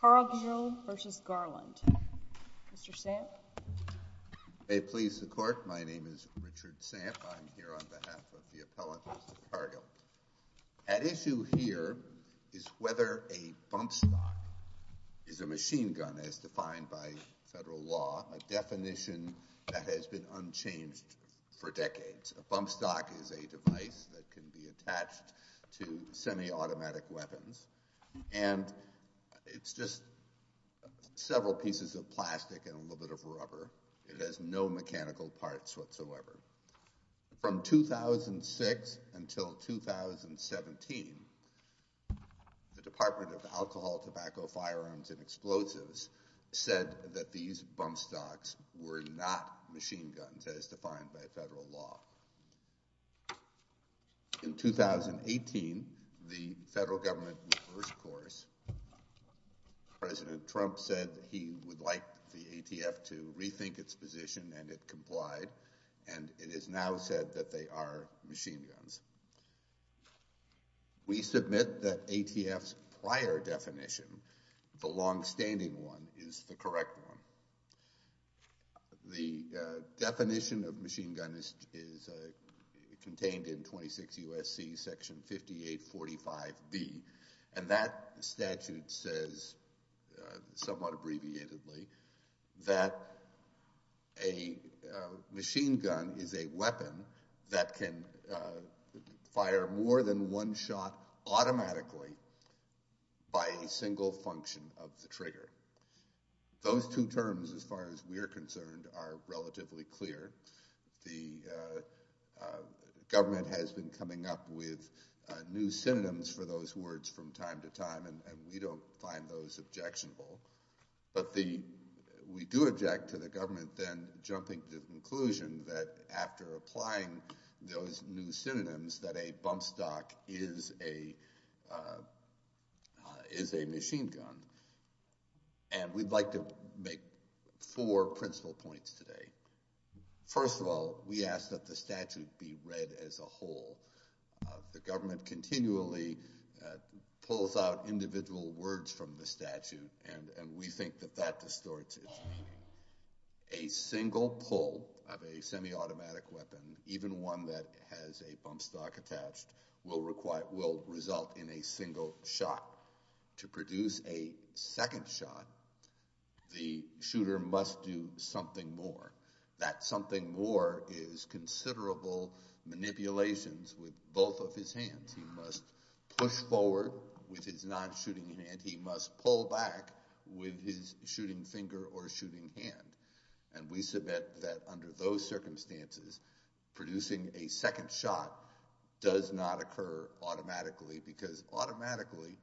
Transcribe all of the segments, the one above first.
Cargill v. Garland. Mr. Samp. May it please the Court, my name is Richard Samp. I'm here on behalf of the appellant, Mr. Cargill. At issue here is whether a bump stock is a machine gun, as defined by federal law, a definition that has been unchanged for decades. A bump stock is a device that can be attached to semi-automatic weapons, and it's just several pieces of plastic and a little bit of rubber. It has no mechanical parts whatsoever. From 2006 until 2017, the Department of Alcohol, Tobacco, Firearms, and Explosives said that these bump stocks were not machine guns, as defined by federal law. In 2018, the federal government reversed course. President Trump said he would like the ATF to rethink its position, and it complied, and it is now said that they are machine guns. We submit that ATF's prior definition, the longstanding one, is the correct one. The definition of machine gun is contained in 26 U.S.C. Section 5845B, and that statute says, somewhat abbreviatedly, that a machine gun is a weapon that can fire more than one shot automatically by a single function of the trigger. Those two terms, as far as we're concerned, are relatively clear. The government has been coming up with new synonyms for those words from time to time, and we don't find those objectionable. But we do object to the government then jumping to the conclusion that, after applying those new synonyms, that a bump stock is a machine gun. And we'd like to make four principal points today. First of all, we ask that the statute be read as a whole. The government continually pulls out individual words from the statute, and we think that that distorts it. A single pull of a semi-automatic weapon, even one that has a bump stock attached, will result in a single shot. To produce a second shot, the shooter must do something more. That something more is considerable manipulations with both of his hands. He must push forward with his non-shooting hand. He must pull back with his shooting finger or shooting hand. And we submit that, under those circumstances, producing a second shot does not occur automatically, because automatically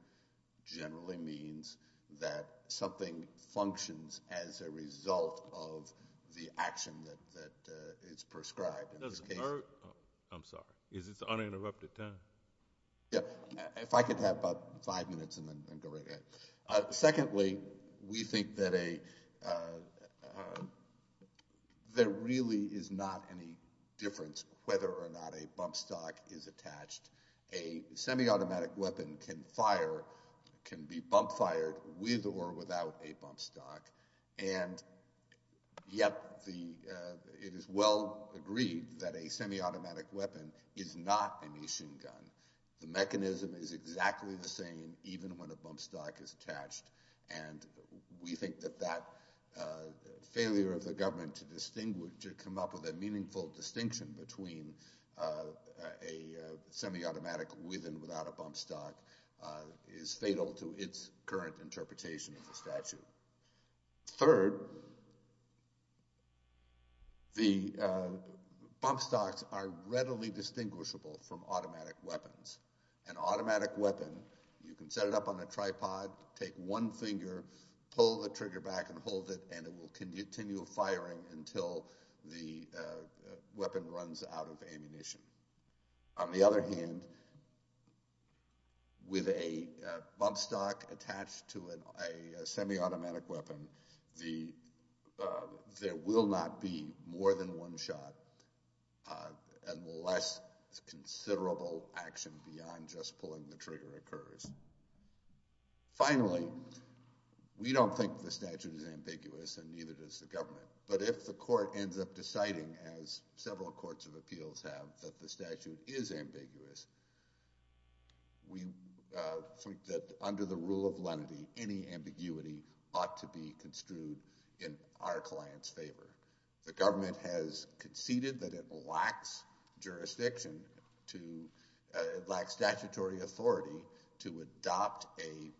generally means that something functions as a result of the action that is prescribed in this case. Does it hurt? I'm sorry. Is this uninterrupted time? Yeah. If I could have about five minutes and then go right ahead. Secondly, we think that there really is not any difference whether or not a bump stock is attached. A semi-automatic weapon can fire, can be bump fired with or without a bump stock, and yet it is well agreed that a semi-automatic weapon is not a machine gun. The mechanism is exactly the same even when a bump stock is attached, and we think that that failure of the government to come up with a meaningful distinction between a semi-automatic with and without a bump stock is fatal to its current interpretation of the statute. Third, the bump stocks are readily distinguishable from automatic weapons. An automatic weapon, you can set it up on a tripod, take one finger, pull the trigger back and hold it, and it will continue firing until the weapon runs out of ammunition. On the other hand, with a bump stock attached to a semi-automatic weapon, there will not be more than one shot unless considerable action beyond just pulling the trigger occurs. Finally, we don't think the statute is ambiguous and neither does the government, but if the court ends up deciding, as several courts of appeals have, that the statute is ambiguous, we think that under the rule of lenity, any ambiguity ought to be construed in our client's favor. The government has conceded that it lacks jurisdiction, it lacks statutory authority, to adopt a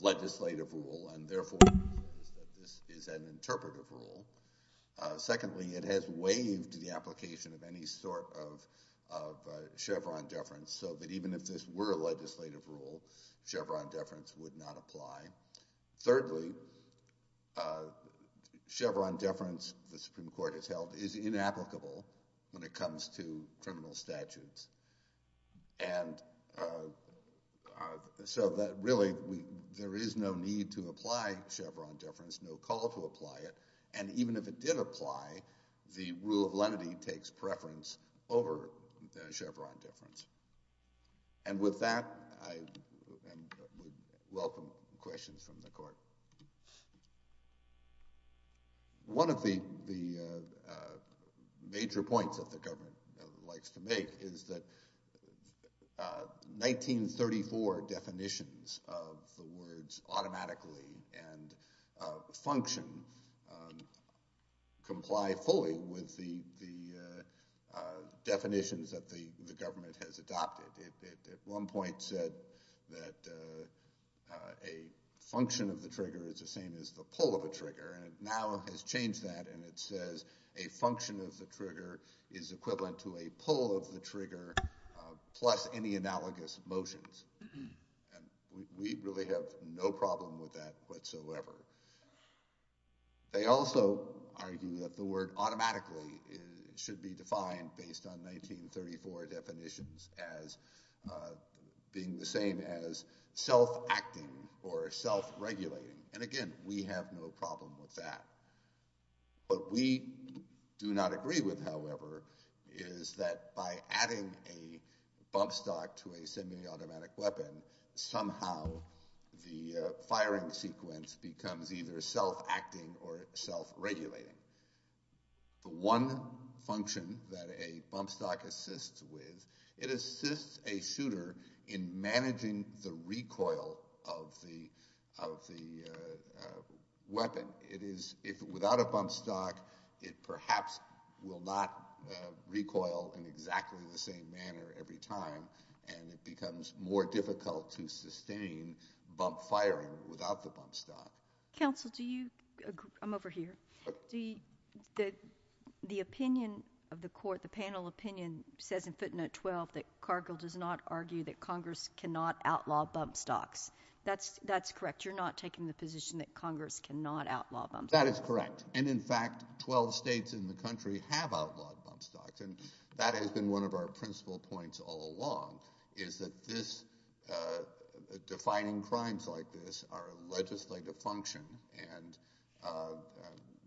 legislative rule and, therefore, this is an interpretive rule. Secondly, it has waived the application of any sort of Chevron deference, so that even if this were a legislative rule, Chevron deference would not apply. Thirdly, Chevron deference, the Supreme Court has held, is inapplicable when it comes to criminal statutes, and so really there is no need to apply Chevron deference, no call to apply it, and even if it did apply, the rule of lenity takes preference over Chevron deference. And with that, I would welcome questions from the court. One of the major points that the government likes to make is that 1934 definitions of the words automatically and function comply fully with the definitions that the government has adopted. It at one point said that a function of the trigger is the same as the pull of a trigger, and it now has changed that and it says a function of the trigger is equivalent to a pull of the trigger, plus any analogous motions, and we really have no problem with that whatsoever. They also argue that the word automatically should be defined based on 1934 definitions as being the same as self-acting or self-regulating, and again, we have no problem with that. What we do not agree with, however, is that by adding a bump stock to a semi-automatic weapon, somehow the firing sequence becomes either self-acting or self-regulating. The one function that a bump stock assists with, it assists a shooter in managing the recoil of the weapon. Without a bump stock, it perhaps will not recoil in exactly the same manner every time, and it becomes more difficult to sustain bump firing without the bump stock. Counsel, do you—I'm over here. The opinion of the court, the panel opinion, says in footnote 12 that Cargill does not argue that Congress cannot outlaw bump stocks. That's correct. You're not taking the position that Congress cannot outlaw bump stocks. That is correct, and in fact, 12 states in the country have outlawed bump stocks, and that has been one of our principal points all along, is that defining crimes like this are a legislative function, and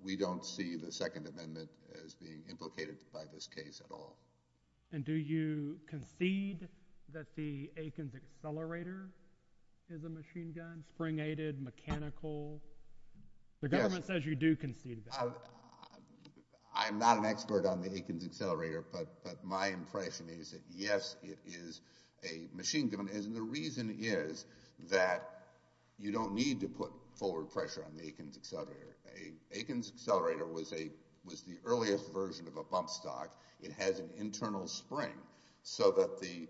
we don't see the Second Amendment as being implicated by this case at all. And do you concede that the Aikens Accelerator is a machine gun, spring-aided, mechanical? The government says you do concede that. I'm not an expert on the Aikens Accelerator, but my impression is that, yes, it is a machine gun, and the reason is that you don't need to put forward pressure on the Aikens Accelerator. Aikens Accelerator was the earliest version of a bump stock. It has an internal spring so that the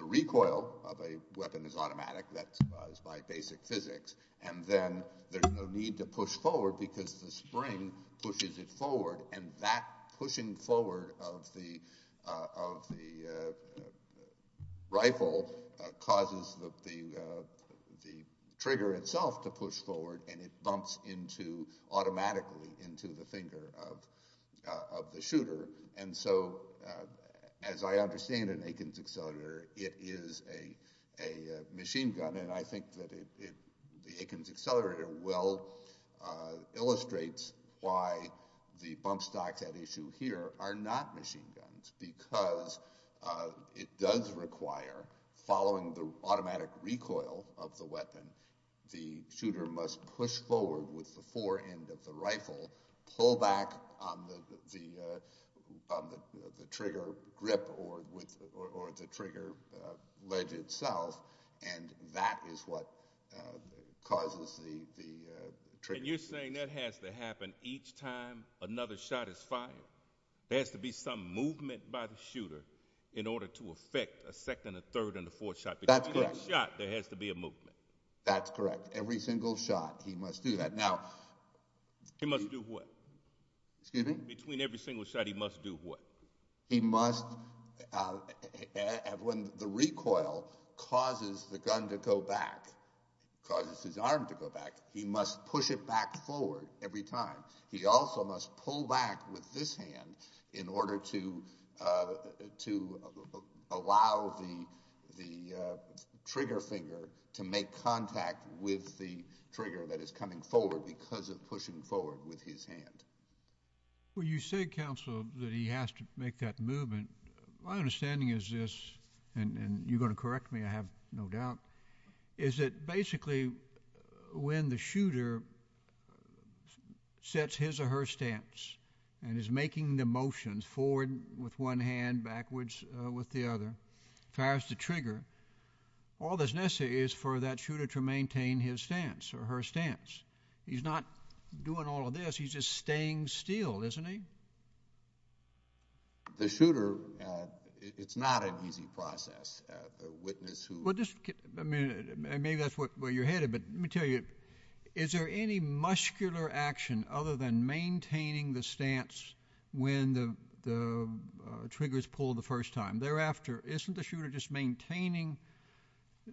recoil of a weapon is automatic. That's by basic physics. And then there's no need to push forward because the spring pushes it forward, and that pushing forward of the rifle causes the trigger itself to push forward, and it bumps automatically into the finger of the shooter. And so, as I understand an Aikens Accelerator, it is a machine gun, and I think that the Aikens Accelerator well illustrates why the bump stocks at issue here are not machine guns because it does require, following the automatic recoil of the weapon, the shooter must push forward with the fore end of the rifle, pull back on the trigger grip or the trigger ledge itself, and that is what causes the trigger. And you're saying that has to happen each time another shot is fired? There has to be some movement by the shooter in order to affect a second, a third, and a fourth shot. That's correct. There has to be a movement. That's correct. Every single shot, he must do that. He must do what? Excuse me? Between every single shot, he must do what? He must, when the recoil causes the gun to go back, causes his arm to go back, he must push it back forward every time. He also must pull back with this hand in order to allow the trigger finger to make contact with the trigger that is coming forward because of pushing forward with his hand. Well, you say, Counsel, that he has to make that movement. My understanding is this, and you're going to correct me, I have no doubt, is that basically when the shooter sets his or her stance and is making the motion forward with one hand, backwards with the other, fires the trigger, all that's necessary is for that shooter to maintain his stance or her stance. He's not doing all of this. He's just staying still, isn't he? The shooter, it's not an easy process. Maybe that's where you're headed, but let me tell you, is there any muscular action other than maintaining the stance when the trigger is pulled the first time? Thereafter, isn't the shooter just maintaining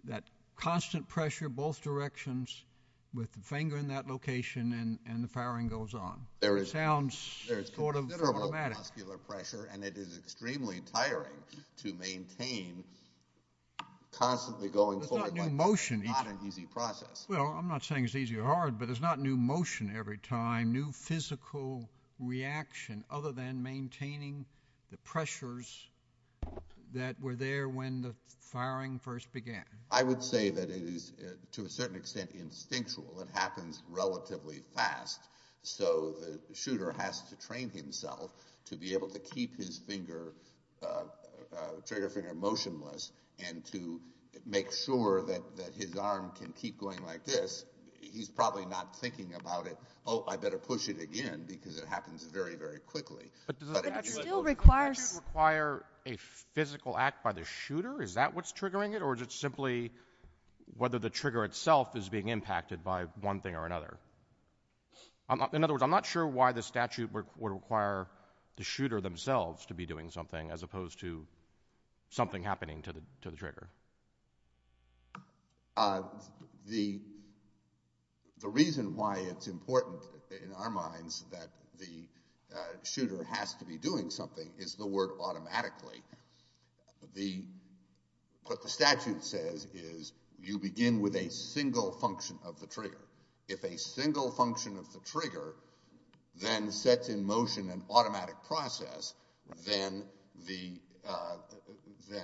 that constant pressure both directions with the finger in that location and the firing goes on? It sounds sort of dramatic. And it is extremely tiring to maintain constantly going forward like that. It's not an easy process. Well, I'm not saying it's easy or hard, but it's not new motion every time, new physical reaction other than maintaining the pressures that were there when the firing first began. I would say that it is, to a certain extent, instinctual. It happens relatively fast, so the shooter has to train himself to be able to keep his trigger finger motionless and to make sure that his arm can keep going like this. He's probably not thinking about it, oh, I better push it again because it happens very, very quickly. But does it actually require a physical act by the shooter? Is that what's triggering it? In other words, it's simply whether the trigger itself is being impacted by one thing or another. In other words, I'm not sure why the statute would require the shooter themselves to be doing something as opposed to something happening to the trigger. The reason why it's important in our minds that the shooter has to be doing something is the word automatically. What the statute says is you begin with a single function of the trigger. If a single function of the trigger then sets in motion an automatic process, then the ‑‑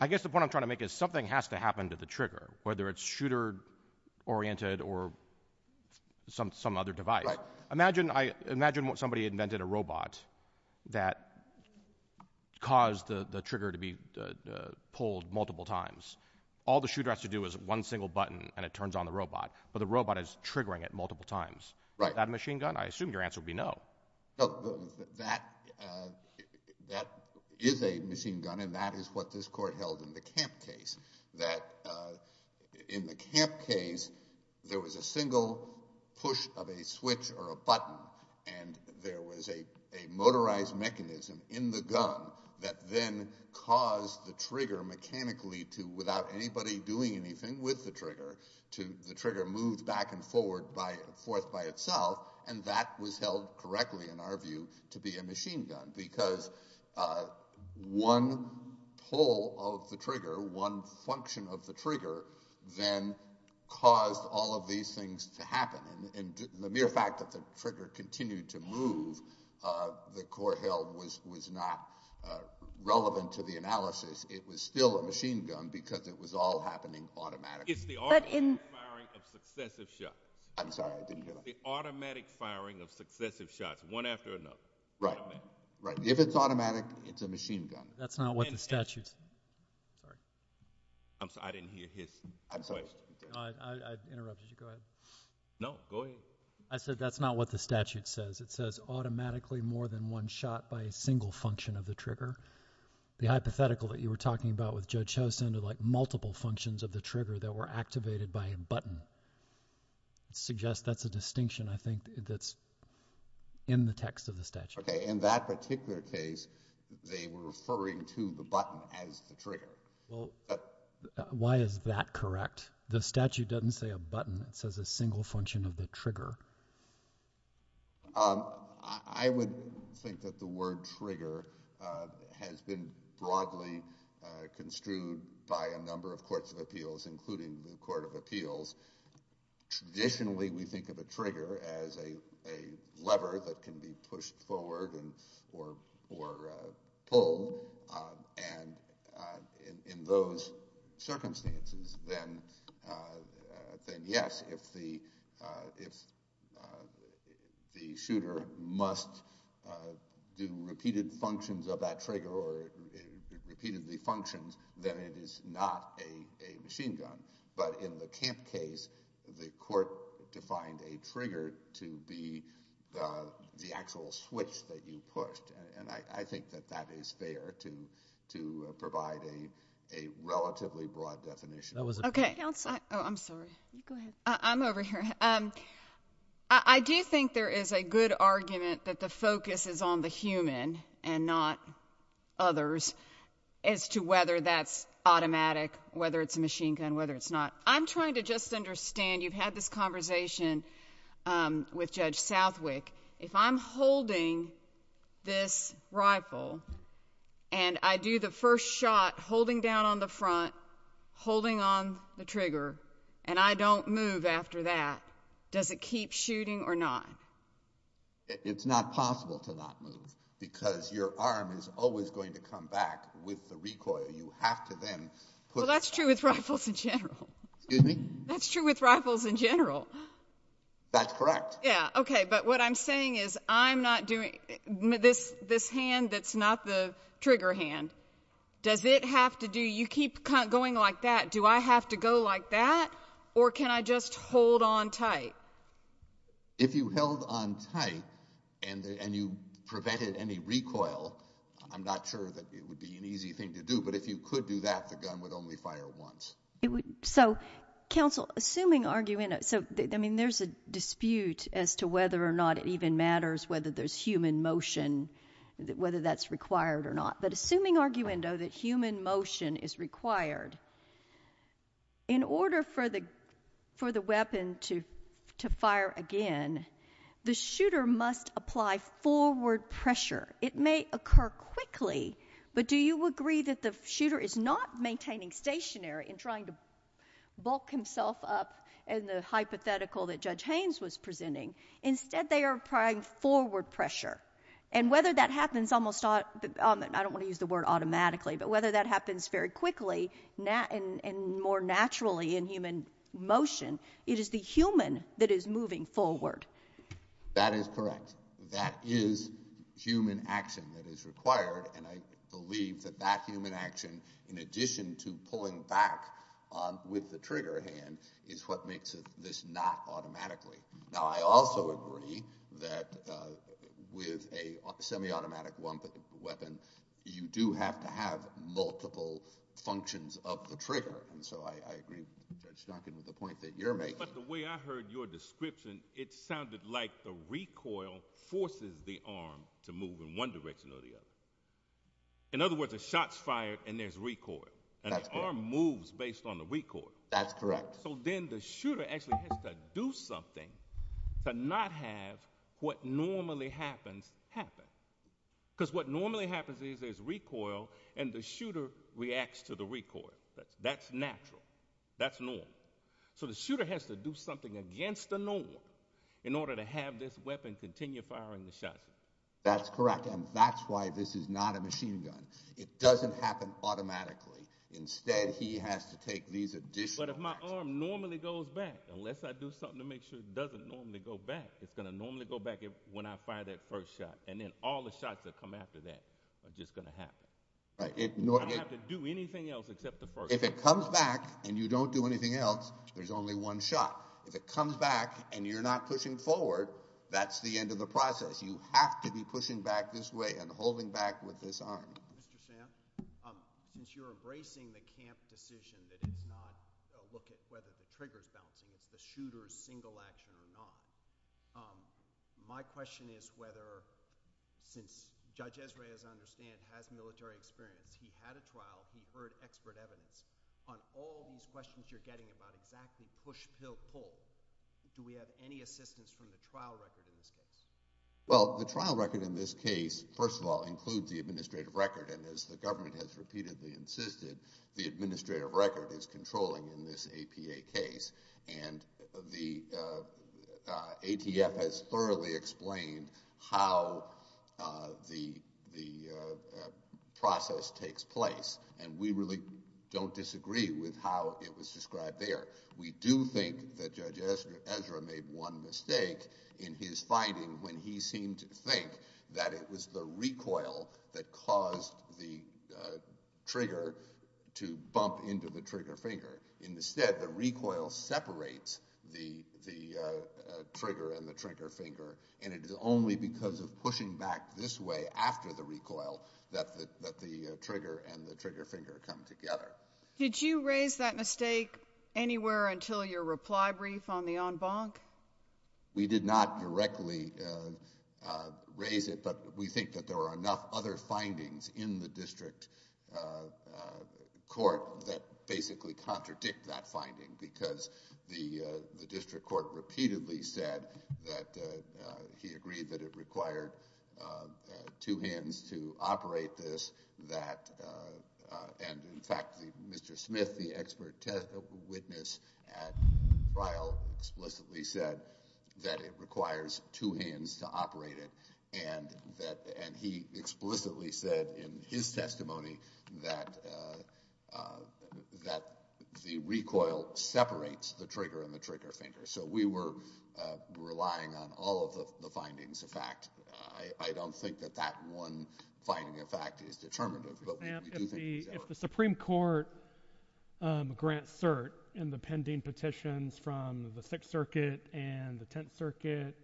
I guess the point I'm trying to make is something has to happen to the trigger, whether it's shooter-oriented or some other device. Imagine somebody invented a robot that caused the trigger to be pulled multiple times. All the shooter has to do is one single button and it turns on the robot, but the robot is triggering it multiple times. Is that a machine gun? I assume your answer would be no. That is a machine gun, and that is what this court held in the Camp case. In the Camp case, there was a single push of a switch or a button, and there was a motorized mechanism in the gun that then caused the trigger mechanically to, without anybody doing anything with the trigger, the trigger moved back and forth by itself, and that was held correctly, in our view, to be a machine gun, because one pull of the trigger, one function of the trigger, then caused all of these things to happen. And the mere fact that the trigger continued to move, the court held, was not relevant to the analysis. It was still a machine gun because it was all happening automatically. It's the automatic firing of successive shots. I'm sorry, I didn't hear that. The automatic firing of successive shots, one after another. Right. If it's automatic, it's a machine gun. That's not what the statute says. Sorry. I'm sorry, I didn't hear his question. I interrupted you. Go ahead. No, go ahead. I said that's not what the statute says. It says automatically more than one shot by a single function of the trigger. The hypothetical that you were talking about with Judge Chosin, like multiple functions of the trigger that were activated by a button, suggests that's a distinction, I think, that's in the text of the statute. Okay. In that particular case, they were referring to the button as the trigger. Well, why is that correct? The statute doesn't say a button. It says a single function of the trigger. I would think that the word trigger has been broadly construed by a number of courts of appeals, including the Court of Appeals. Traditionally, we think of a trigger as a lever that can be pushed forward or pulled. And in those circumstances, then yes, if the shooter must do repeated functions of that trigger or repeatedly functions, then it is not a machine gun. But in the camp case, the court defined a trigger to be the actual switch that you pushed. And I think that that is fair to provide a relatively broad definition. Okay. Counsel. Oh, I'm sorry. Go ahead. I'm over here. I do think there is a good argument that the focus is on the human and not others as to whether that's automatic, whether it's a machine gun, whether it's not. I'm trying to just understand. You've had this conversation with Judge Southwick. If I'm holding this rifle and I do the first shot holding down on the front, holding on the trigger, and I don't move after that, does it keep shooting or not? It's not possible to not move because your arm is always going to come back with the recoil. You have to then put the— Well, that's true with rifles in general. Excuse me? That's true with rifles in general. That's correct. Yeah. Okay. But what I'm saying is I'm not doing—this hand that's not the trigger hand, does it have to do—you keep going like that. Do I have to go like that or can I just hold on tight? If you held on tight and you prevented any recoil, I'm not sure that it would be an easy thing to do. But if you could do that, the gun would only fire once. So, counsel, assuming—I mean, there's a dispute as to whether or not it even matters whether there's human motion, whether that's required or not. But assuming, arguendo, that human motion is required, in order for the weapon to fire again, the shooter must apply forward pressure. It may occur quickly, but do you agree that the shooter is not maintaining stationary and trying to bulk himself up in the hypothetical that Judge Haynes was presenting? Instead, they are applying forward pressure. And whether that happens almost—I don't want to use the word automatically, but whether that happens very quickly and more naturally in human motion, it is the human that is moving forward. That is correct. That is human action that is required, and I believe that that human action, in addition to pulling back with the trigger hand, is what makes this not automatically. Now, I also agree that with a semi-automatic weapon, you do have to have multiple functions of the trigger, and so I agree with Judge Duncan with the point that you're making. But the way I heard your description, it sounded like the recoil forces the arm to move in one direction or the other. In other words, a shot's fired and there's recoil, and the arm moves based on the recoil. That's correct. So then the shooter actually has to do something to not have what normally happens happen, because what normally happens is there's recoil and the shooter reacts to the recoil. That's natural. That's normal. So the shooter has to do something against the norm in order to have this weapon continue firing the shot. That's correct, and that's why this is not a machine gun. It doesn't happen automatically. Instead, he has to take these additional actions. But if my arm normally goes back, unless I do something to make sure it doesn't normally go back, it's going to normally go back when I fire that first shot, and then all the shots that come after that are just going to happen. Right. I don't have to do anything else except the first shot. If it comes back and you don't do anything else, there's only one shot. If it comes back and you're not pushing forward, that's the end of the process. You have to be pushing back this way and holding back with this arm. Mr. Sam, since you're embracing the camp decision that it's not a look at whether the trigger is bouncing, it's the shooter's single action or not, my question is whether since Judge Esrey, as I understand, has military experience, he had a trial, he heard expert evidence. On all these questions you're getting about exactly push, pill, pull, do we have any assistance from the trial record in this case? Well, the trial record in this case, first of all, includes the administrative record, and as the government has repeatedly insisted, the administrative record is controlling in this APA case, and the ATF has thoroughly explained how the process takes place, and we really don't disagree with how it was described there. We do think that Judge Esrey made one mistake in his finding when he seemed to think that it was the recoil that caused the trigger to bump into the trigger finger. Instead, the recoil separates the trigger and the trigger finger, and it is only because of pushing back this way after the recoil that the trigger and the trigger finger come together. Did you raise that mistake anywhere until your reply brief on the en banc? We did not directly raise it, but we think that there are enough other findings in the district court that basically contradict that finding because the district court repeatedly said that he agreed that it required two hands to operate this, and, in fact, Mr. Smith, the expert witness at trial, explicitly said that it requires two hands to operate it, and he explicitly said in his testimony that the recoil separates the trigger and the trigger finger, so we were relying on all of the findings of fact. I don't think that that one finding of fact is determinative, but we do think these are. If the Supreme Court grants cert in the pending petitions from the Sixth Circuit and the Tenth Circuit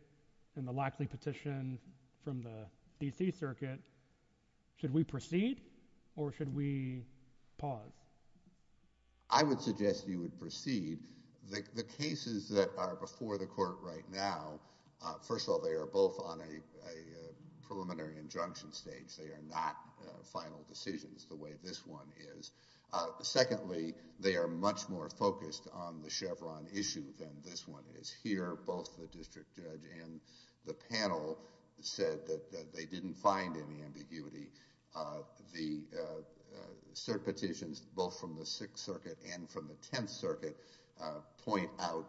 and the Lackley petition from the D.C. Circuit, should we proceed or should we pause? I would suggest you would proceed. The cases that are before the court right now, first of all, they are both on a preliminary injunction stage. They are not final decisions the way this one is. Secondly, they are much more focused on the Chevron issue than this one is. Here, both the district judge and the panel said that they didn't find any ambiguity. The cert petitions, both from the Sixth Circuit and from the Tenth Circuit, point out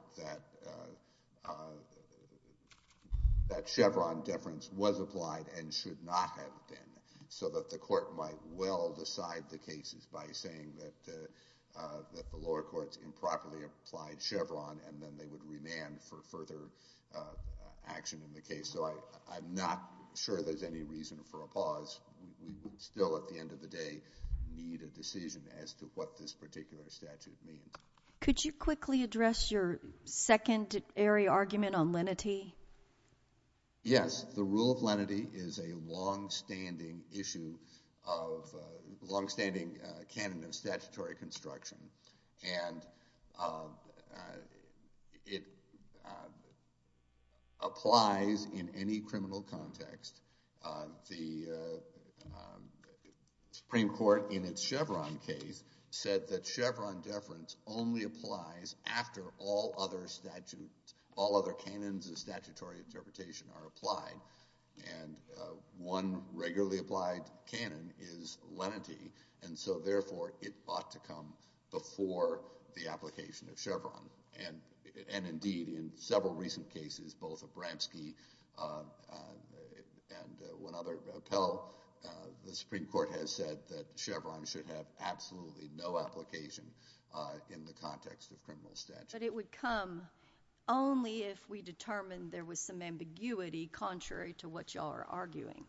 that Chevron deference was applied and should not have been, so that the court might well decide the cases by saying that the lower courts improperly applied Chevron and then they would remand for further action in the case. I'm not sure there's any reason for a pause. We would still, at the end of the day, need a decision as to what this particular statute means. Could you quickly address your secondary argument on lenity? Yes. The rule of lenity is a longstanding issue of – a longstanding canon of statutory construction. And it applies in any criminal context. The Supreme Court, in its Chevron case, said that Chevron deference only applies after all other statutes, all other canons of statutory interpretation are applied. And one regularly applied canon is lenity. And so, therefore, it ought to come before the application of Chevron. And, indeed, in several recent cases, both of Bramski and one other appell, the Supreme Court has said that Chevron should have absolutely no application in the context of criminal statute. But it would come only if we determined there was some ambiguity contrary to what you all are arguing.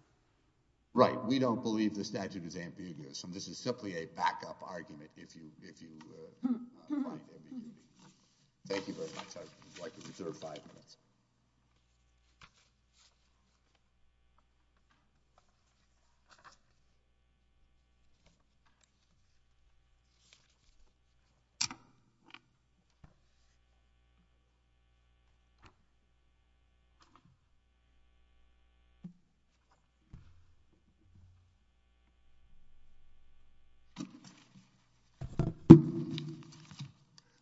Right. We don't believe the statute is ambiguous. And this is simply a backup argument if you find ambiguity. Thank you very much. I would like to reserve five minutes.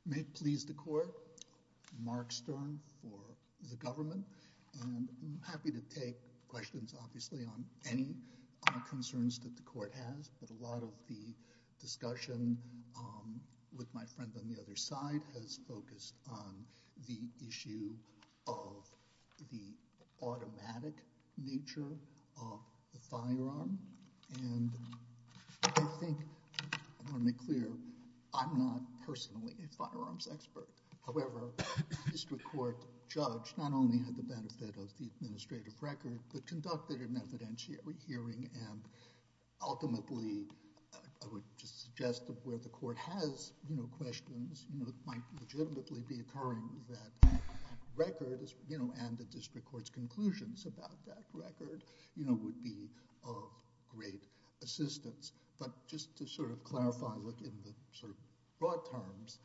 May it please the court. Mark Stern for the government. I'm happy to take questions, obviously, on any concerns that the court has. But a lot of the discussion with my friend on the other side has focused on the issue of the automatic nature of the firearm. And I think I want to make clear, I'm not personally a firearms expert. However, the district court judge not only had the benefit of the administrative record, but conducted an evidentiary hearing. And ultimately, I would just suggest that where the court has questions, it might legitimately be occurring that records and the district court's conclusions about that record would be of great assistance. But just to sort of clarify in the sort of broad terms,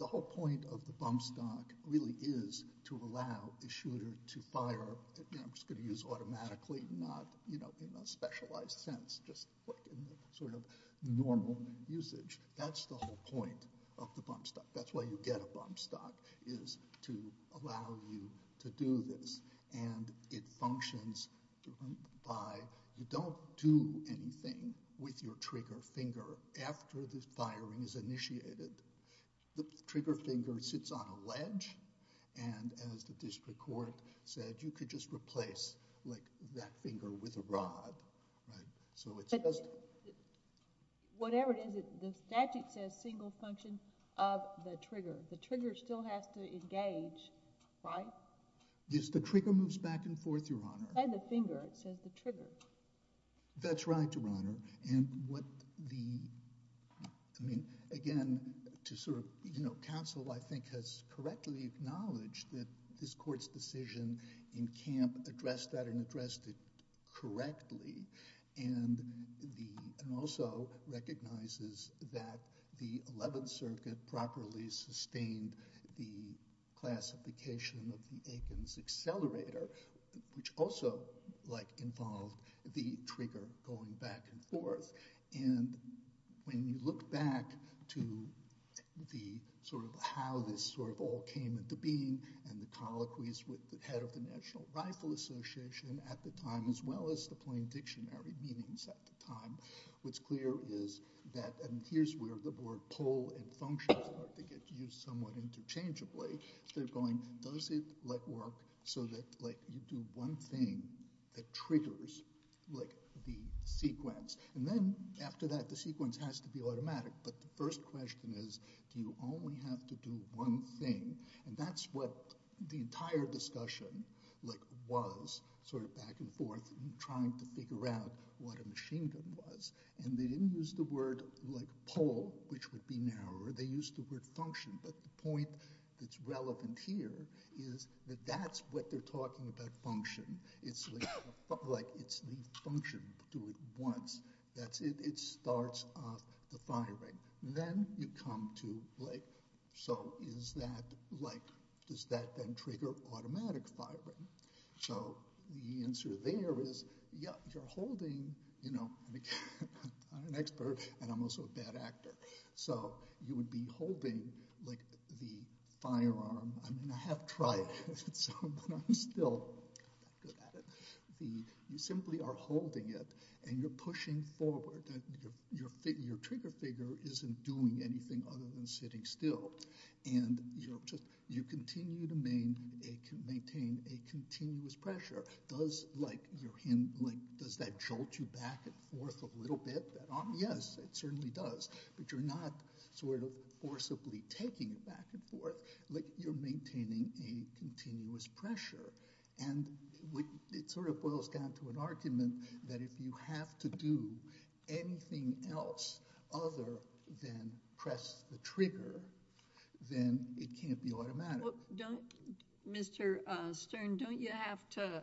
the whole point of the bump stock really is to allow the shooter to fire, I'm just going to use automatically, not in a specialized sense, just sort of normal usage. That's the whole point of the bump stock. That's why you get a bump stock, is to allow you to do this. And it functions by you don't do anything with your trigger finger after the firing is initiated. The trigger finger sits on a ledge. And as the district court said, you could just replace that finger with a rod. So it's just... Whatever it is, the statute says single function of the trigger. The trigger still has to engage, right? Yes, the trigger moves back and forth, Your Honor. Say the finger, it says the trigger. That's right, Your Honor. And what the, I mean, again, to sort of, you know, counsel, I think, has correctly acknowledged that this court's decision in Camp addressed that and addressed it correctly and also recognizes that the 11th Circuit properly sustained the classification of the Aikens accelerator, which also, like, involved the trigger going back and forth. And when you look back to the sort of how this sort of all came into being and the colloquies with the head of the National Rifle Association at the time as well as the plain dictionary meanings at the time, what's clear is that, and here's where the word pull and function start to get used somewhat interchangeably. They're going, does it, like, work so that, like, you do one thing that triggers, like, the sequence? And then after that, the sequence has to be automatic. But the first question is, do you only have to do one thing? And that's what the entire discussion, like, was, sort of back and forth, trying to figure out what a machine gun was. And they didn't use the word, like, pull, which would be narrower. They used the word function. But the point that's relevant here is that that's what they're talking about, function. It's, like, it's the function, do it once. That's it. It starts off the firing. Then you come to, like, so is that, like, does that then trigger automatic firing? So the answer there is, yeah, you're holding, you know, an expert, and I'm also a bad actor. So you would be holding, like, the firearm. I mean, I have tried it, so I'm still not good at it. You simply are holding it, and you're pushing forward. Your trigger figure isn't doing anything other than sitting still. And you continue to maintain a continuous pressure. Does, like, your hand, like, does that jolt you back and forth a little bit? Yes, it certainly does. But you're not sort of forcibly taking it back and forth. Like, you're maintaining a continuous pressure. And it sort of boils down to an argument that if you have to do anything else other than press the trigger, then it can't be automatic. Don't, Mr. Stern, don't you have to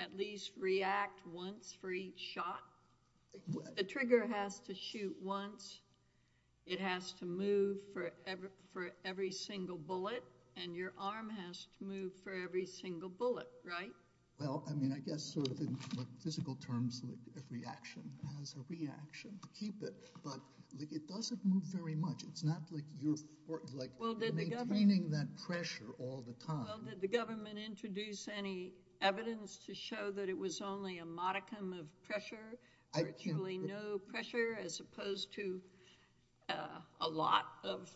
at least react once for each shot? The trigger has to shoot once. It has to move for every single bullet. And your arm has to move for every single bullet, right? Well, I mean, I guess sort of in physical terms, a reaction has a reaction. Keep it. But, like, it doesn't move very much. It's not like you're, like, maintaining that pressure all the time. Well, did the government introduce any evidence to show that it was only a modicum of pressure? Virtually no pressure as opposed to a lot of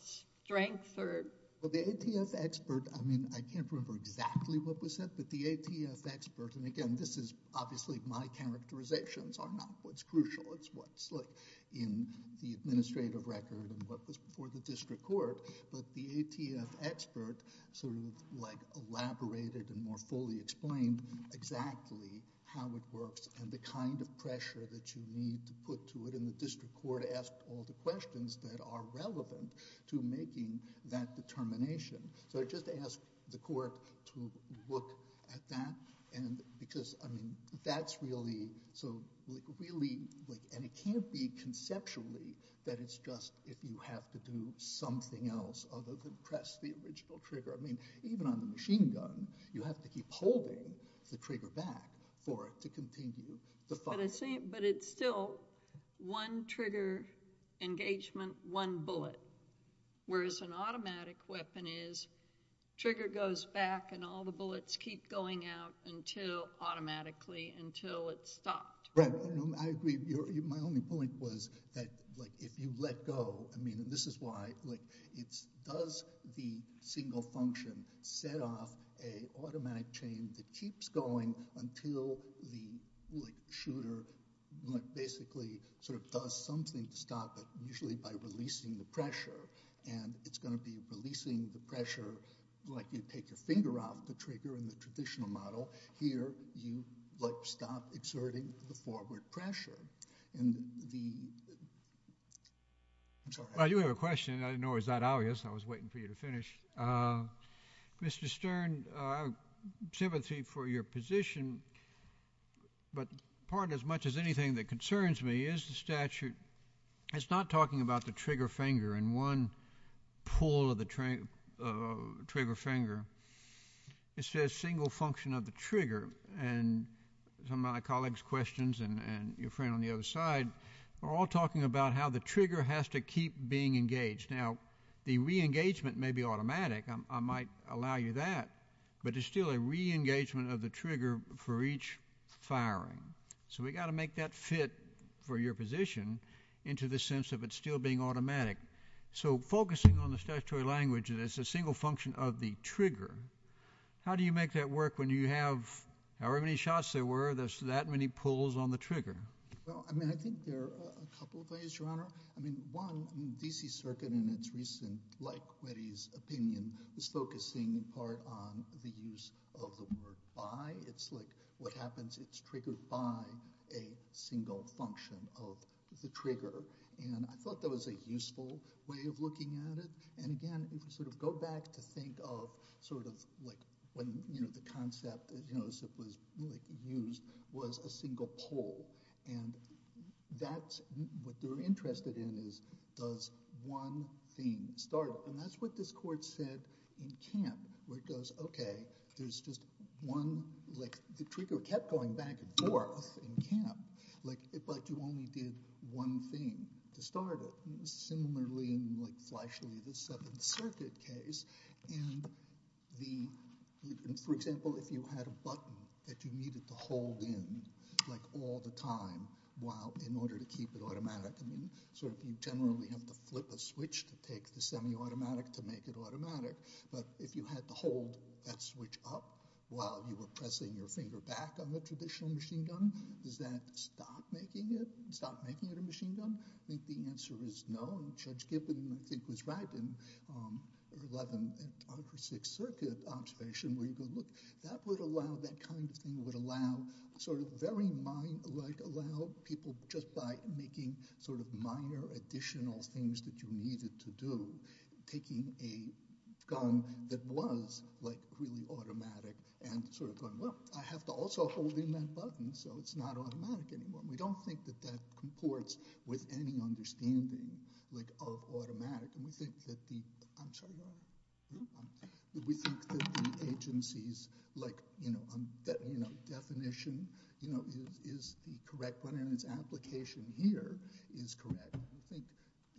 strength or... Well, the ATF expert... I mean, I can't remember exactly what was said, but the ATF expert... And again, this is, obviously, my characterizations are not what's crucial. It's what's, like, in the administrative record and what was before the district court. But the ATF expert sort of, like, elaborated and more fully explained exactly how it works and the kind of pressure that you need to put to it. And the district court asked all the questions that are relevant to making that determination. So I just ask the court to look at that because, I mean, that's really... other than press the original trigger. I mean, even on the machine gun, you have to keep holding the trigger back for it to continue to fire. But it's still one trigger engagement, one bullet. Whereas an automatic weapon is, trigger goes back and all the bullets keep going out until, automatically, until it's stopped. Right. I agree. My only point was that, like, if you let go... I mean, this is why, like, it's... does the single function set off an automatic chain that keeps going until the, like, shooter, like, basically, sort of does something to stop it, usually by releasing the pressure. And it's going to be releasing the pressure like you take your finger off the trigger in the traditional model. Here, you, like, stop exerting the forward pressure. And the... I'm sorry. Well, you have a question. I didn't know it was that obvious. I was waiting for you to finish. Mr. Stern, I have sympathy for your position, but part as much as anything that concerns me is the statute. It's not talking about the trigger finger and one pull of the trigger finger. It says single function of the trigger. And some of my colleagues' questions and your friend on the other side are all talking about how the trigger has to keep being engaged. Now, the re-engagement may be automatic. I might allow you that. But it's still a re-engagement of the trigger for each firing. So we've got to make that fit for your position into the sense of it still being automatic. So focusing on the statutory language that it's a single function of the trigger, how do you make that work when you have however many shots there were, there's that many pulls on the trigger? Well, I mean, I think there are a couple of ways, Your Honor. I mean, one, the D.C. Circuit in its recent, like Quetty's opinion, is focusing in part on the use of the word by. It's like what happens, it's triggered by a single function of the trigger. And I thought that was a useful way of looking at it. And, again, you can sort of go back to think of sort of like when, you know, the concept, you know, was used was a single pull. And that's what they're interested in is does one thing start. And that's what this court said in Camp, where it goes, okay, there's just one, like the trigger kept going back and forth in Camp. Like, but you only did one thing to start it. Similarly, like flashily, the Seventh Circuit case. And the, for example, if you had a button that you needed to hold in like all the time while in order to keep it automatic. So you generally have to flip a switch to take the semi-automatic to make it automatic. But if you had to hold that switch up while you were pressing your finger back on the traditional machine gun, does that stop making it, stop making it a machine gun? I think the answer is no. And Judge Gibbon, I think, was right in the Eleventh and Sixth Circuit observation. Look, that would allow, that kind of thing would allow sort of very mind, like allow people just by making sort of minor additional things that you needed to do. Taking a gun that was like really automatic and sort of going, well, I have to also hold in that button so it's not automatic anymore. We don't think that that comports with any understanding like of automatic. And we think that the, I'm sorry. We think that the agency's, like, you know, definition is the correct one and its application here is correct. I think,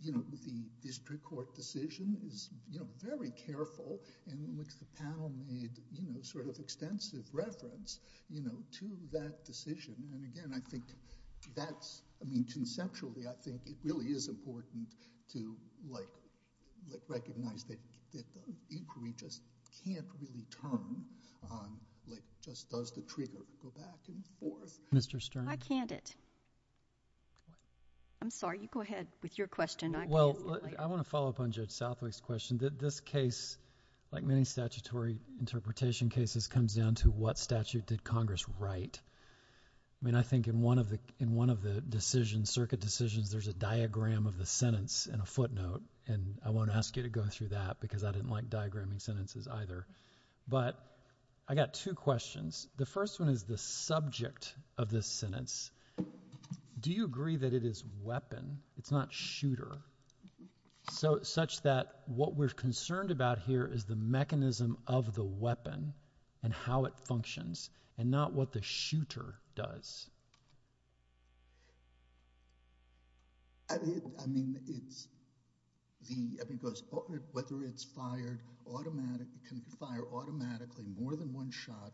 you know, the district court decision is, you know, very careful in which the panel made, you know, sort of extensive reference, you know, to that decision. And again, I think that's, I mean, conceptually, I think it really is important to, like, recognize that the inquiry just can't really turn on, like, just does the trigger, go back and forth. Mr. Stern. I canned it. I'm sorry. You go ahead with your question. Well, I want to follow up on Judge Southwick's question. This case, like many statutory interpretation cases, comes down to what statute did Congress write. I mean, I think in one of the decisions, circuit decisions, there's a diagram of the sentence and a footnote. And I won't ask you to go through that because I didn't like diagramming sentences either. But I got two questions. The first one is the subject of this sentence. Do you agree that it is weapon? It's not shooter. So such that what we're concerned about here is the mechanism of the weapon and how it functions and not what the shooter does. I mean, it's the, I mean, because whether it's fired automatically, it can fire automatically more than one shot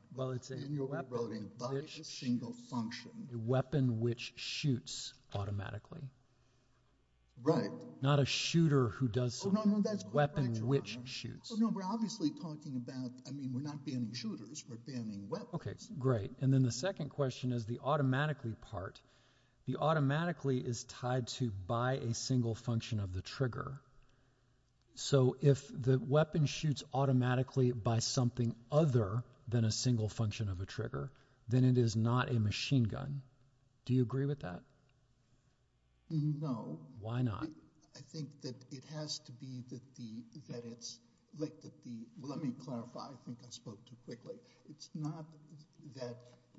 in your voting by a single function. A weapon which shoots automatically. Right. Not a shooter who does something. No, no, that's correct, Your Honor. A weapon which shoots. No, we're obviously talking about, I mean, we're not banning shooters. We're banning weapons. Okay, great. And then the second question is the automatically part. The automatically is tied to by a single function of the trigger. So if the weapon shoots automatically by something other than a single function of a trigger, then it is not a machine gun. Do you agree with that? No. Why not? I think that it has to be that the, let me clarify. I think I spoke too quickly. It's not that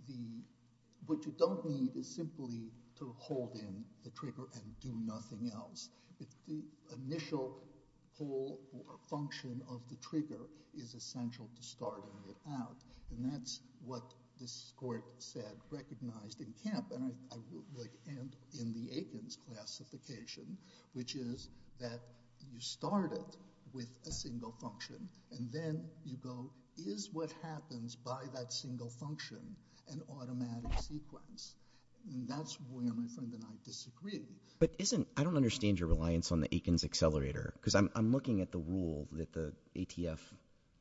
the, what you don't need is simply to hold in the trigger and do nothing else. The initial pull or function of the trigger is essential to starting it out. And that's what this court said, recognized in Kemp and in the Aikens classification, which is that you start it with a single function and then you go, is what happens by that single function an automatic sequence? And that's where my friend and I disagree. But isn't, I don't understand your reliance on the Aikens accelerator. Because I'm looking at the rule that the ATF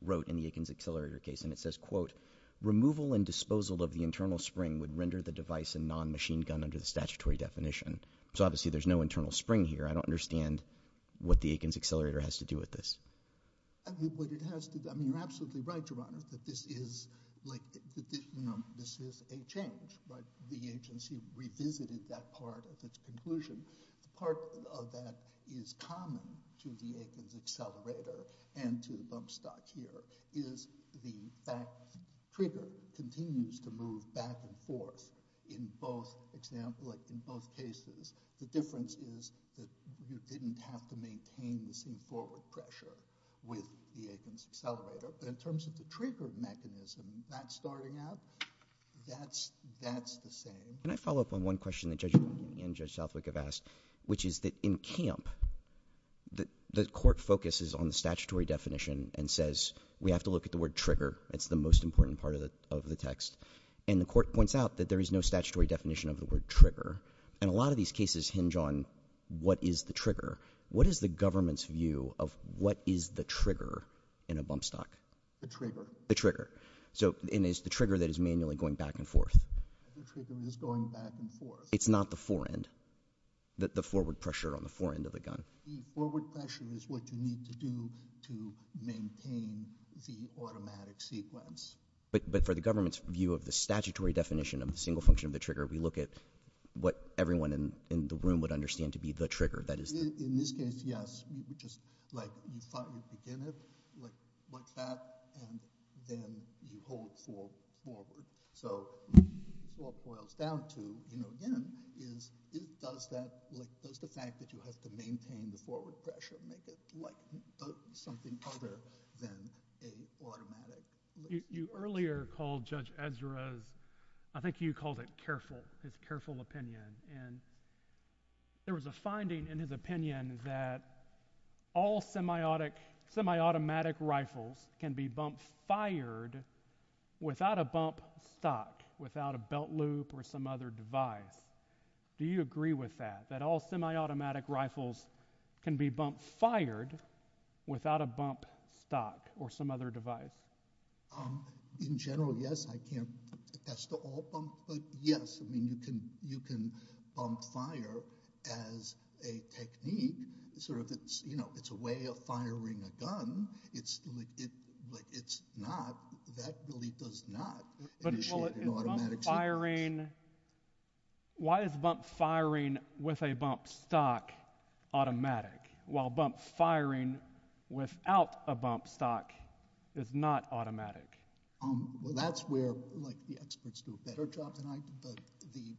wrote in the Aikens accelerator case, and it says, quote, removal and disposal of the internal spring would render the device a non-machine gun under the statutory definition. So obviously there's no internal spring here. I don't understand what the Aikens accelerator has to do with this. I think what it has to do, I mean, you're absolutely right, Your Honor, that this is like, you know, this is a change. But the agency revisited that part of its conclusion. Part of that is common to the Aikens accelerator and to the bump stock here, is the fact the trigger continues to move back and forth in both examples, in both cases. The difference is that you didn't have to maintain the same forward pressure with the Aikens accelerator. But in terms of the trigger mechanism, that starting out, that's the same. Can I follow up on one question that Judge Romney and Judge Southwick have asked, which is that in camp, the court focuses on the statutory definition and says we have to look at the word trigger. It's the most important part of the text. And the court points out that there is no statutory definition of the word trigger. And a lot of these cases hinge on what is the trigger. What is the government's view of what is the trigger in a bump stock? The trigger. And it's the trigger that is manually going back and forth. The trigger is going back and forth. It's not the fore-end, the forward pressure on the fore-end of the gun. The forward pressure is what you need to do to maintain the automatic sequence. But for the government's view of the statutory definition of the single function of the trigger, we look at what everyone in the room would understand to be the trigger. In this case, yes. You begin it like that, and then you hold forward. So what it boils down to, again, is does the fact that you have to maintain the forward pressure make it something other than an automatic? You earlier called Judge Ezra's – I think you called it careful, his careful opinion. There was a finding in his opinion that all semi-automatic rifles can be bump-fired without a bump stock, without a belt loop or some other device. Do you agree with that, that all semi-automatic rifles can be bump-fired without a bump stock or some other device? In general, yes. I can't attest to all bump, but yes, you can bump-fire as a technique. It's a way of firing a gun, but it's not – that really does not initiate an automatic sequence. Why is bump-firing with a bump stock automatic, while bump-firing without a bump stock is not automatic? That's where the experts do a better job than I do, but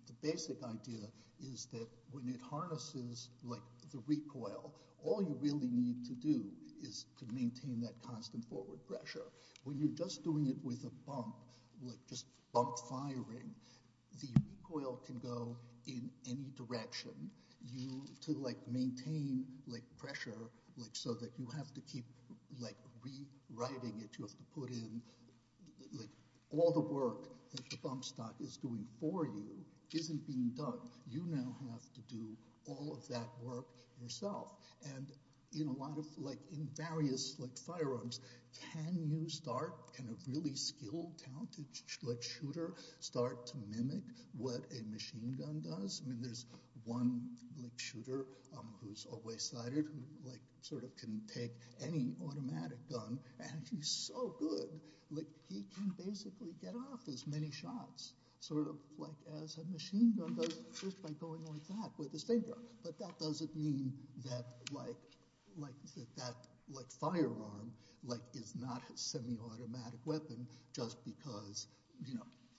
the basic idea is that when it harnesses the recoil, all you really need to do is to maintain that constant forward pressure. When you're just doing it with a bump, just bump-firing, the recoil can go in any direction. To maintain pressure so that you have to keep rewriting it, you have to put in – all the work that the bump stock is doing for you isn't being done. You now have to do all of that work yourself. In various firearms, can you start – can a really skilled, talented shooter start to mimic what a machine gun does? There's one shooter who's always sighted, who can take any automatic gun, and he's so good. He can basically get off as many shots as a machine gun does just by going like that with his finger. But that doesn't mean that that firearm is not a semi-automatic weapon just because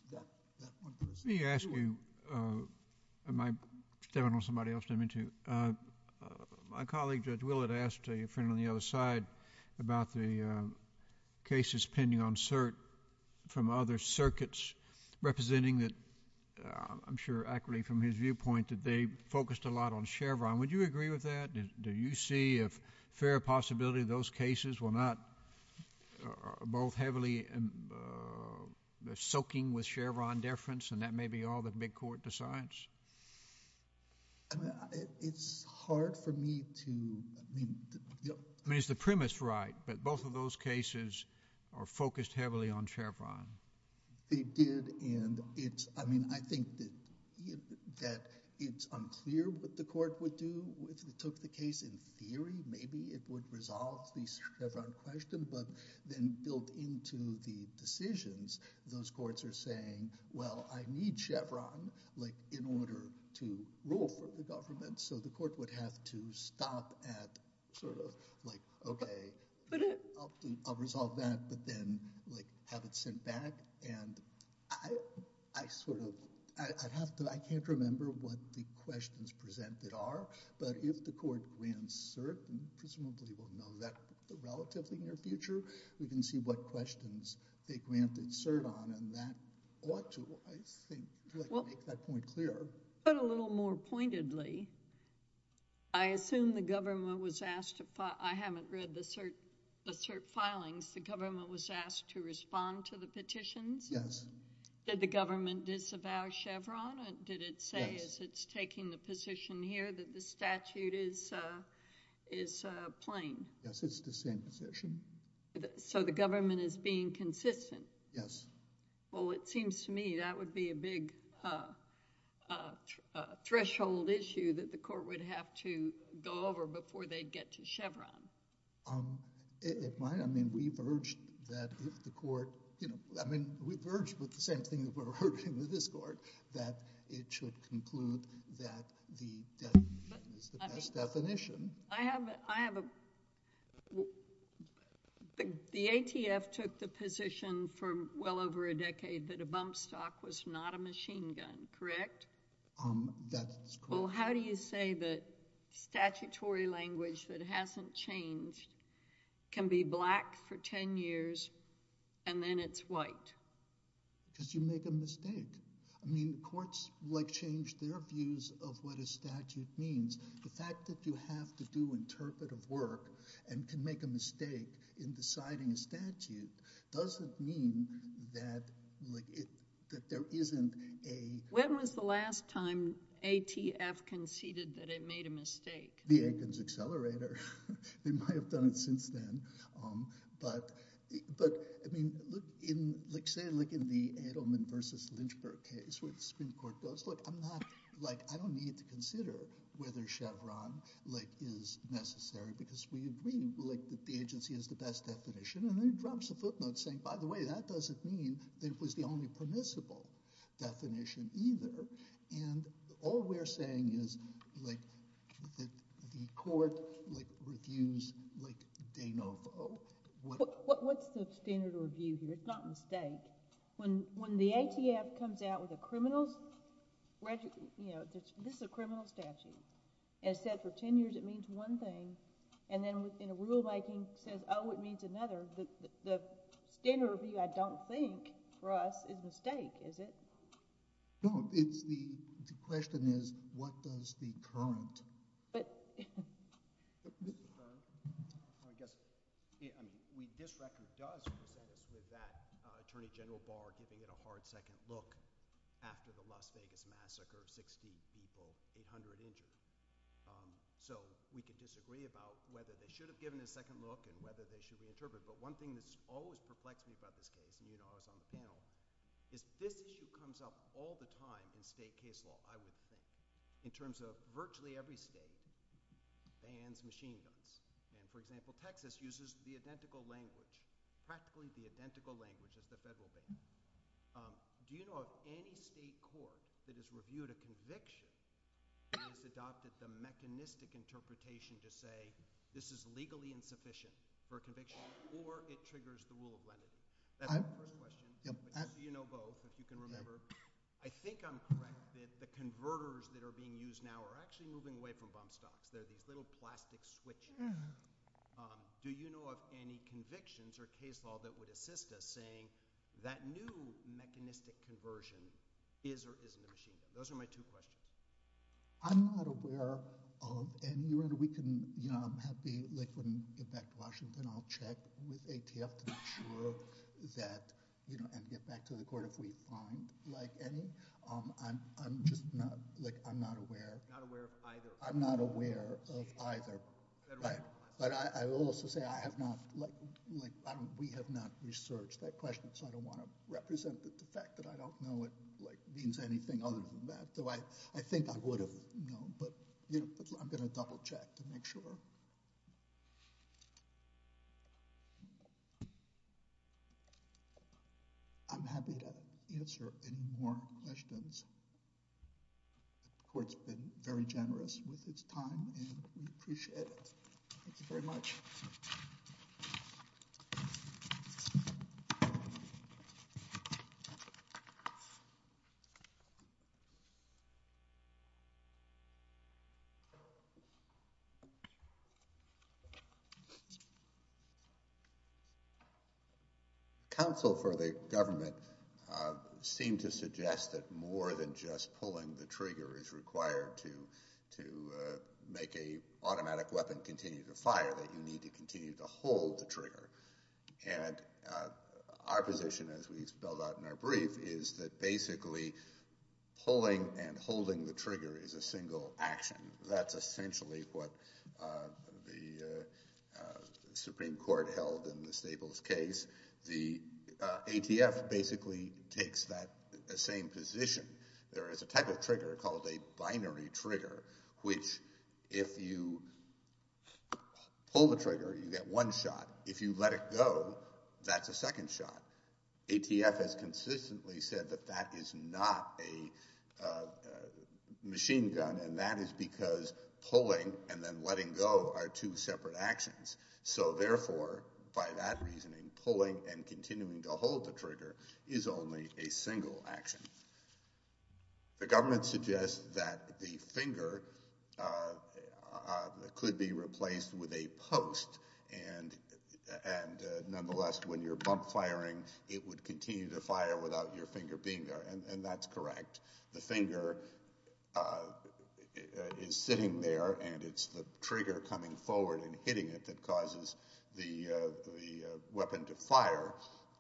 – Let me ask you – I don't know if somebody else – my colleague Judge Willard asked a friend on the other side about the cases pending on cert from other circuits representing that – I'm sure accurately from his viewpoint that they focused a lot on Chevron. Would you agree with that? Do you see a fair possibility those cases were not both heavily soaking with Chevron deference, and that may be all the big court decides? It's hard for me to – I mean, is the premise right that both of those cases are focused heavily on Chevron? They did, and it's – I mean, I think that it's unclear what the court would do if it took the case in theory. Maybe it would resolve the Chevron question, but then built into the decisions, those courts are saying, well, I need Chevron in order to rule for the government. So the court would have to stop at sort of like, okay, I'll resolve that, but then have it sent back. And I sort of – I'd have to – I can't remember what the questions presented are, but if the court grants cert, presumably we'll know that relatively near future, we can see what questions they grant cert on, and that ought to, I think, make that point clear. But a little more pointedly, I assume the government was asked to – I haven't read the cert filings. The government was asked to respond to the petitions? Yes. Did the government disavow Chevron? Yes. Did it say as it's taking the position here that the statute is plain? Yes, it's the same position. So the government is being consistent? Yes. Well, it seems to me that would be a big threshold issue that the court would have to go over before they'd get to Chevron. It might. I mean, we've urged that the court – I mean, we've urged with the same thing that we're urging with this court, that it should conclude that the definition is the best definition. I have a – the ATF took the position for well over a decade that a bump stock was not a machine gun, correct? That's correct. Well, how do you say that statutory language that hasn't changed can be black for 10 years and then it's white? Because you make a mistake. I mean, courts like change their views of what a statute means. The fact that you have to do interpretive work and can make a mistake in deciding a statute doesn't mean that there isn't a – When was the last time ATF conceded that it made a mistake? The Atkins Accelerator. They might have done it since then. But, I mean, say like in the Edelman v. Lynchburg case where the Supreme Court goes, look, I'm not – like I don't need to consider whether Chevron is necessary because we agree that the agency is the best definition. And then it drops a footnote saying, by the way, that doesn't mean that it was the only permissible definition either. And all we're saying is like the court reviews like de novo. What's the standard of review here? It's not a mistake. When the ATF comes out with a criminal – this is a criminal statute. It says for 10 years it means one thing and then in the rulemaking says, oh, it means another. The standard of review I don't think for us is a mistake, is it? No. The question is what does the current – What does the current – I guess we – this record does present us with that. Attorney General Barr giving it a hard second look after the Las Vegas massacre, 60 people, 800 injured. So we can disagree about whether they should have given it a second look and whether they should reinterpret it. But one thing that's always perplexing about this case, and you know I was on the panel, is this issue comes up all the time in state case law, I would think, in terms of virtually every state bans machine guns. And, for example, Texas uses the identical language, practically the identical language of the federal government. Do you know of any state court that has reviewed a conviction and has adopted the mechanistic interpretation to say this is legally insufficient for a conviction or it triggers the rule of remedy? That's my first question. Do you know both, if you can remember? I think I'm correct that the converters that are being used now are actually moving away from bump stops. They're these little plastic switches. Do you know of any convictions or case law that would assist us saying that new mechanistic conversion is or isn't a machine gun? Those are my two questions. I'm not aware of any. I'm happy when we get back to Washington, I'll check with ATF to make sure and get back to the court if we find any. I'm just not aware. Not aware of either. I'm not aware of either. But I will also say we have not researched that question, so I don't want to represent the fact that I don't know it means anything other than that. I think I would have known, but I'm going to double check to make sure. I'm happy to answer any more questions. The court's been very generous with its time and we appreciate it. Thank you very much. Counsel for the government seemed to suggest that more than just pulling the trigger is required to make an automatic weapon continue to fire, that you need to continue to hold the trigger. And our position, as we spelled out in our brief, is that basically pulling and holding the trigger is a single action. That's essentially what the Supreme Court held in the Staples case. The ATF basically takes that same position. There is a type of trigger called a binary trigger, which if you pull the trigger, you get one shot. If you let it go, that's a second shot. ATF has consistently said that that is not a machine gun, and that is because pulling and then letting go are two separate actions. So therefore, by that reasoning, pulling and continuing to hold the trigger is only a single action. The government suggests that the finger could be replaced with a post, and nonetheless, when you're bump firing, it would continue to fire without your finger being there. And that's correct. The finger is sitting there, and it's the trigger coming forward and hitting it that causes the weapon to fire,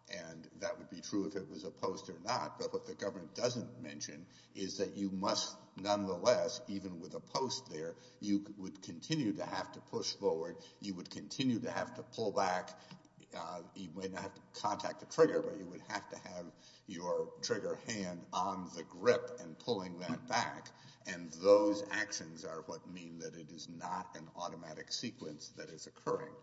and that would be true if it was a post or not. But what the government doesn't mention is that you must nonetheless, even with a post there, you would continue to have to push forward. You would continue to have to pull back. You may not contact the trigger, but you would have to have your trigger hand on the grip and pulling that back, and those actions are what mean that it is not an automatic sequence that is occurring.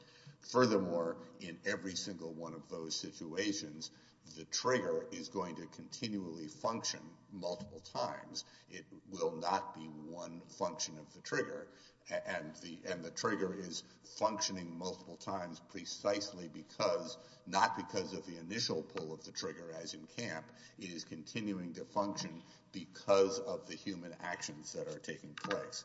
Furthermore, in every single one of those situations, the trigger is going to continually function multiple times. It will not be one function of the trigger, and the trigger is functioning multiple times precisely because, not because of the initial pull of the trigger as in camp, it is continuing to function because of the human actions that are taking place.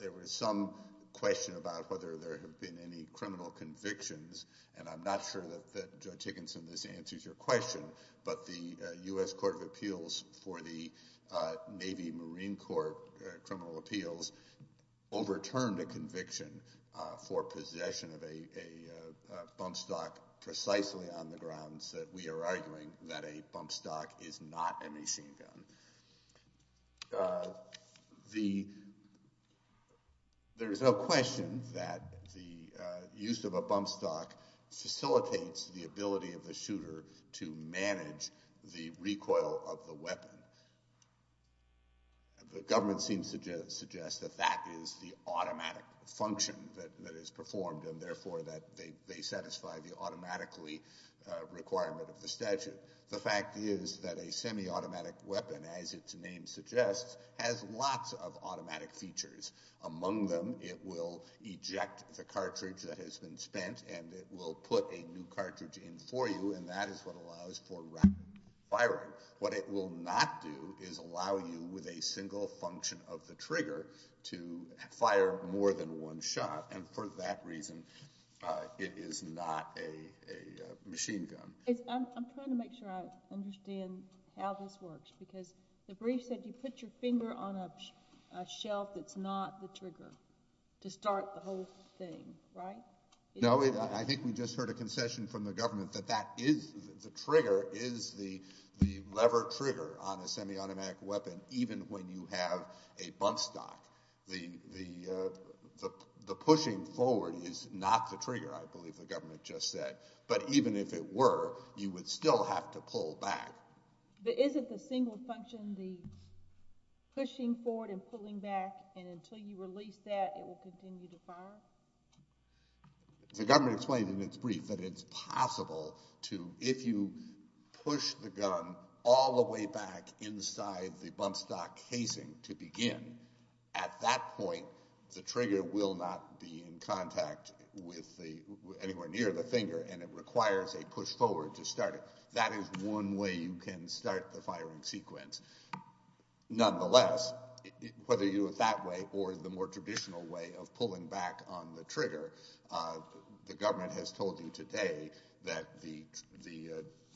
There was some question about whether there have been any criminal convictions, and I'm not sure that, Judge Higginson, this answers your question, but the U.S. Court of Appeals for the Navy Marine Corps Criminal Appeals overturned a conviction for possession of a bump stock precisely on the grounds that we are arguing that a bump stock is not a machine gun. There is no question that the use of a bump stock facilitates the ability of the shooter to manage the recoil of the weapon. The government seems to suggest that that is the automatic function that is performed, and therefore that they satisfy the automatically requirement of the statute. The fact is that a semi-automatic weapon, as its name suggests, has lots of automatic features. Among them, it will eject the cartridge that has been spent, and it will put a new cartridge in for you, and that is what allows for rapid firing. What it will not do is allow you, with a single function of the trigger, to fire more than one shot, and for that reason, it is not a machine gun. I'm trying to make sure I understand how this works, because the brief said you put your finger on a shelf that's not the trigger to start the whole thing, right? No, I think we just heard a concession from the government that the trigger is the lever trigger on a semi-automatic weapon, even when you have a bump stock. The pushing forward is not the trigger, I believe the government just said, but even if it were, you would still have to pull back. But isn't the single function the pushing forward and pulling back, and until you release that, it will continue to fire? The government explained in its brief that it's possible to, if you push the gun all the way back inside the bump stock casing to begin, at that point, the trigger will not be in contact with anywhere near the finger, and it requires a push forward to start it. That is one way you can start the firing sequence. Nonetheless, whether you do it that way or the more traditional way of pulling back on the trigger, the government has told you today that the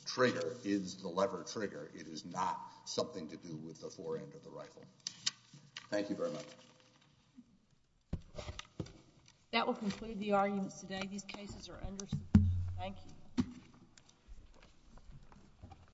trigger is the lever trigger. It is not something to do with the fore end of the rifle. Thank you very much. That will conclude the arguments today. These cases are understood. Thank you. Thank you.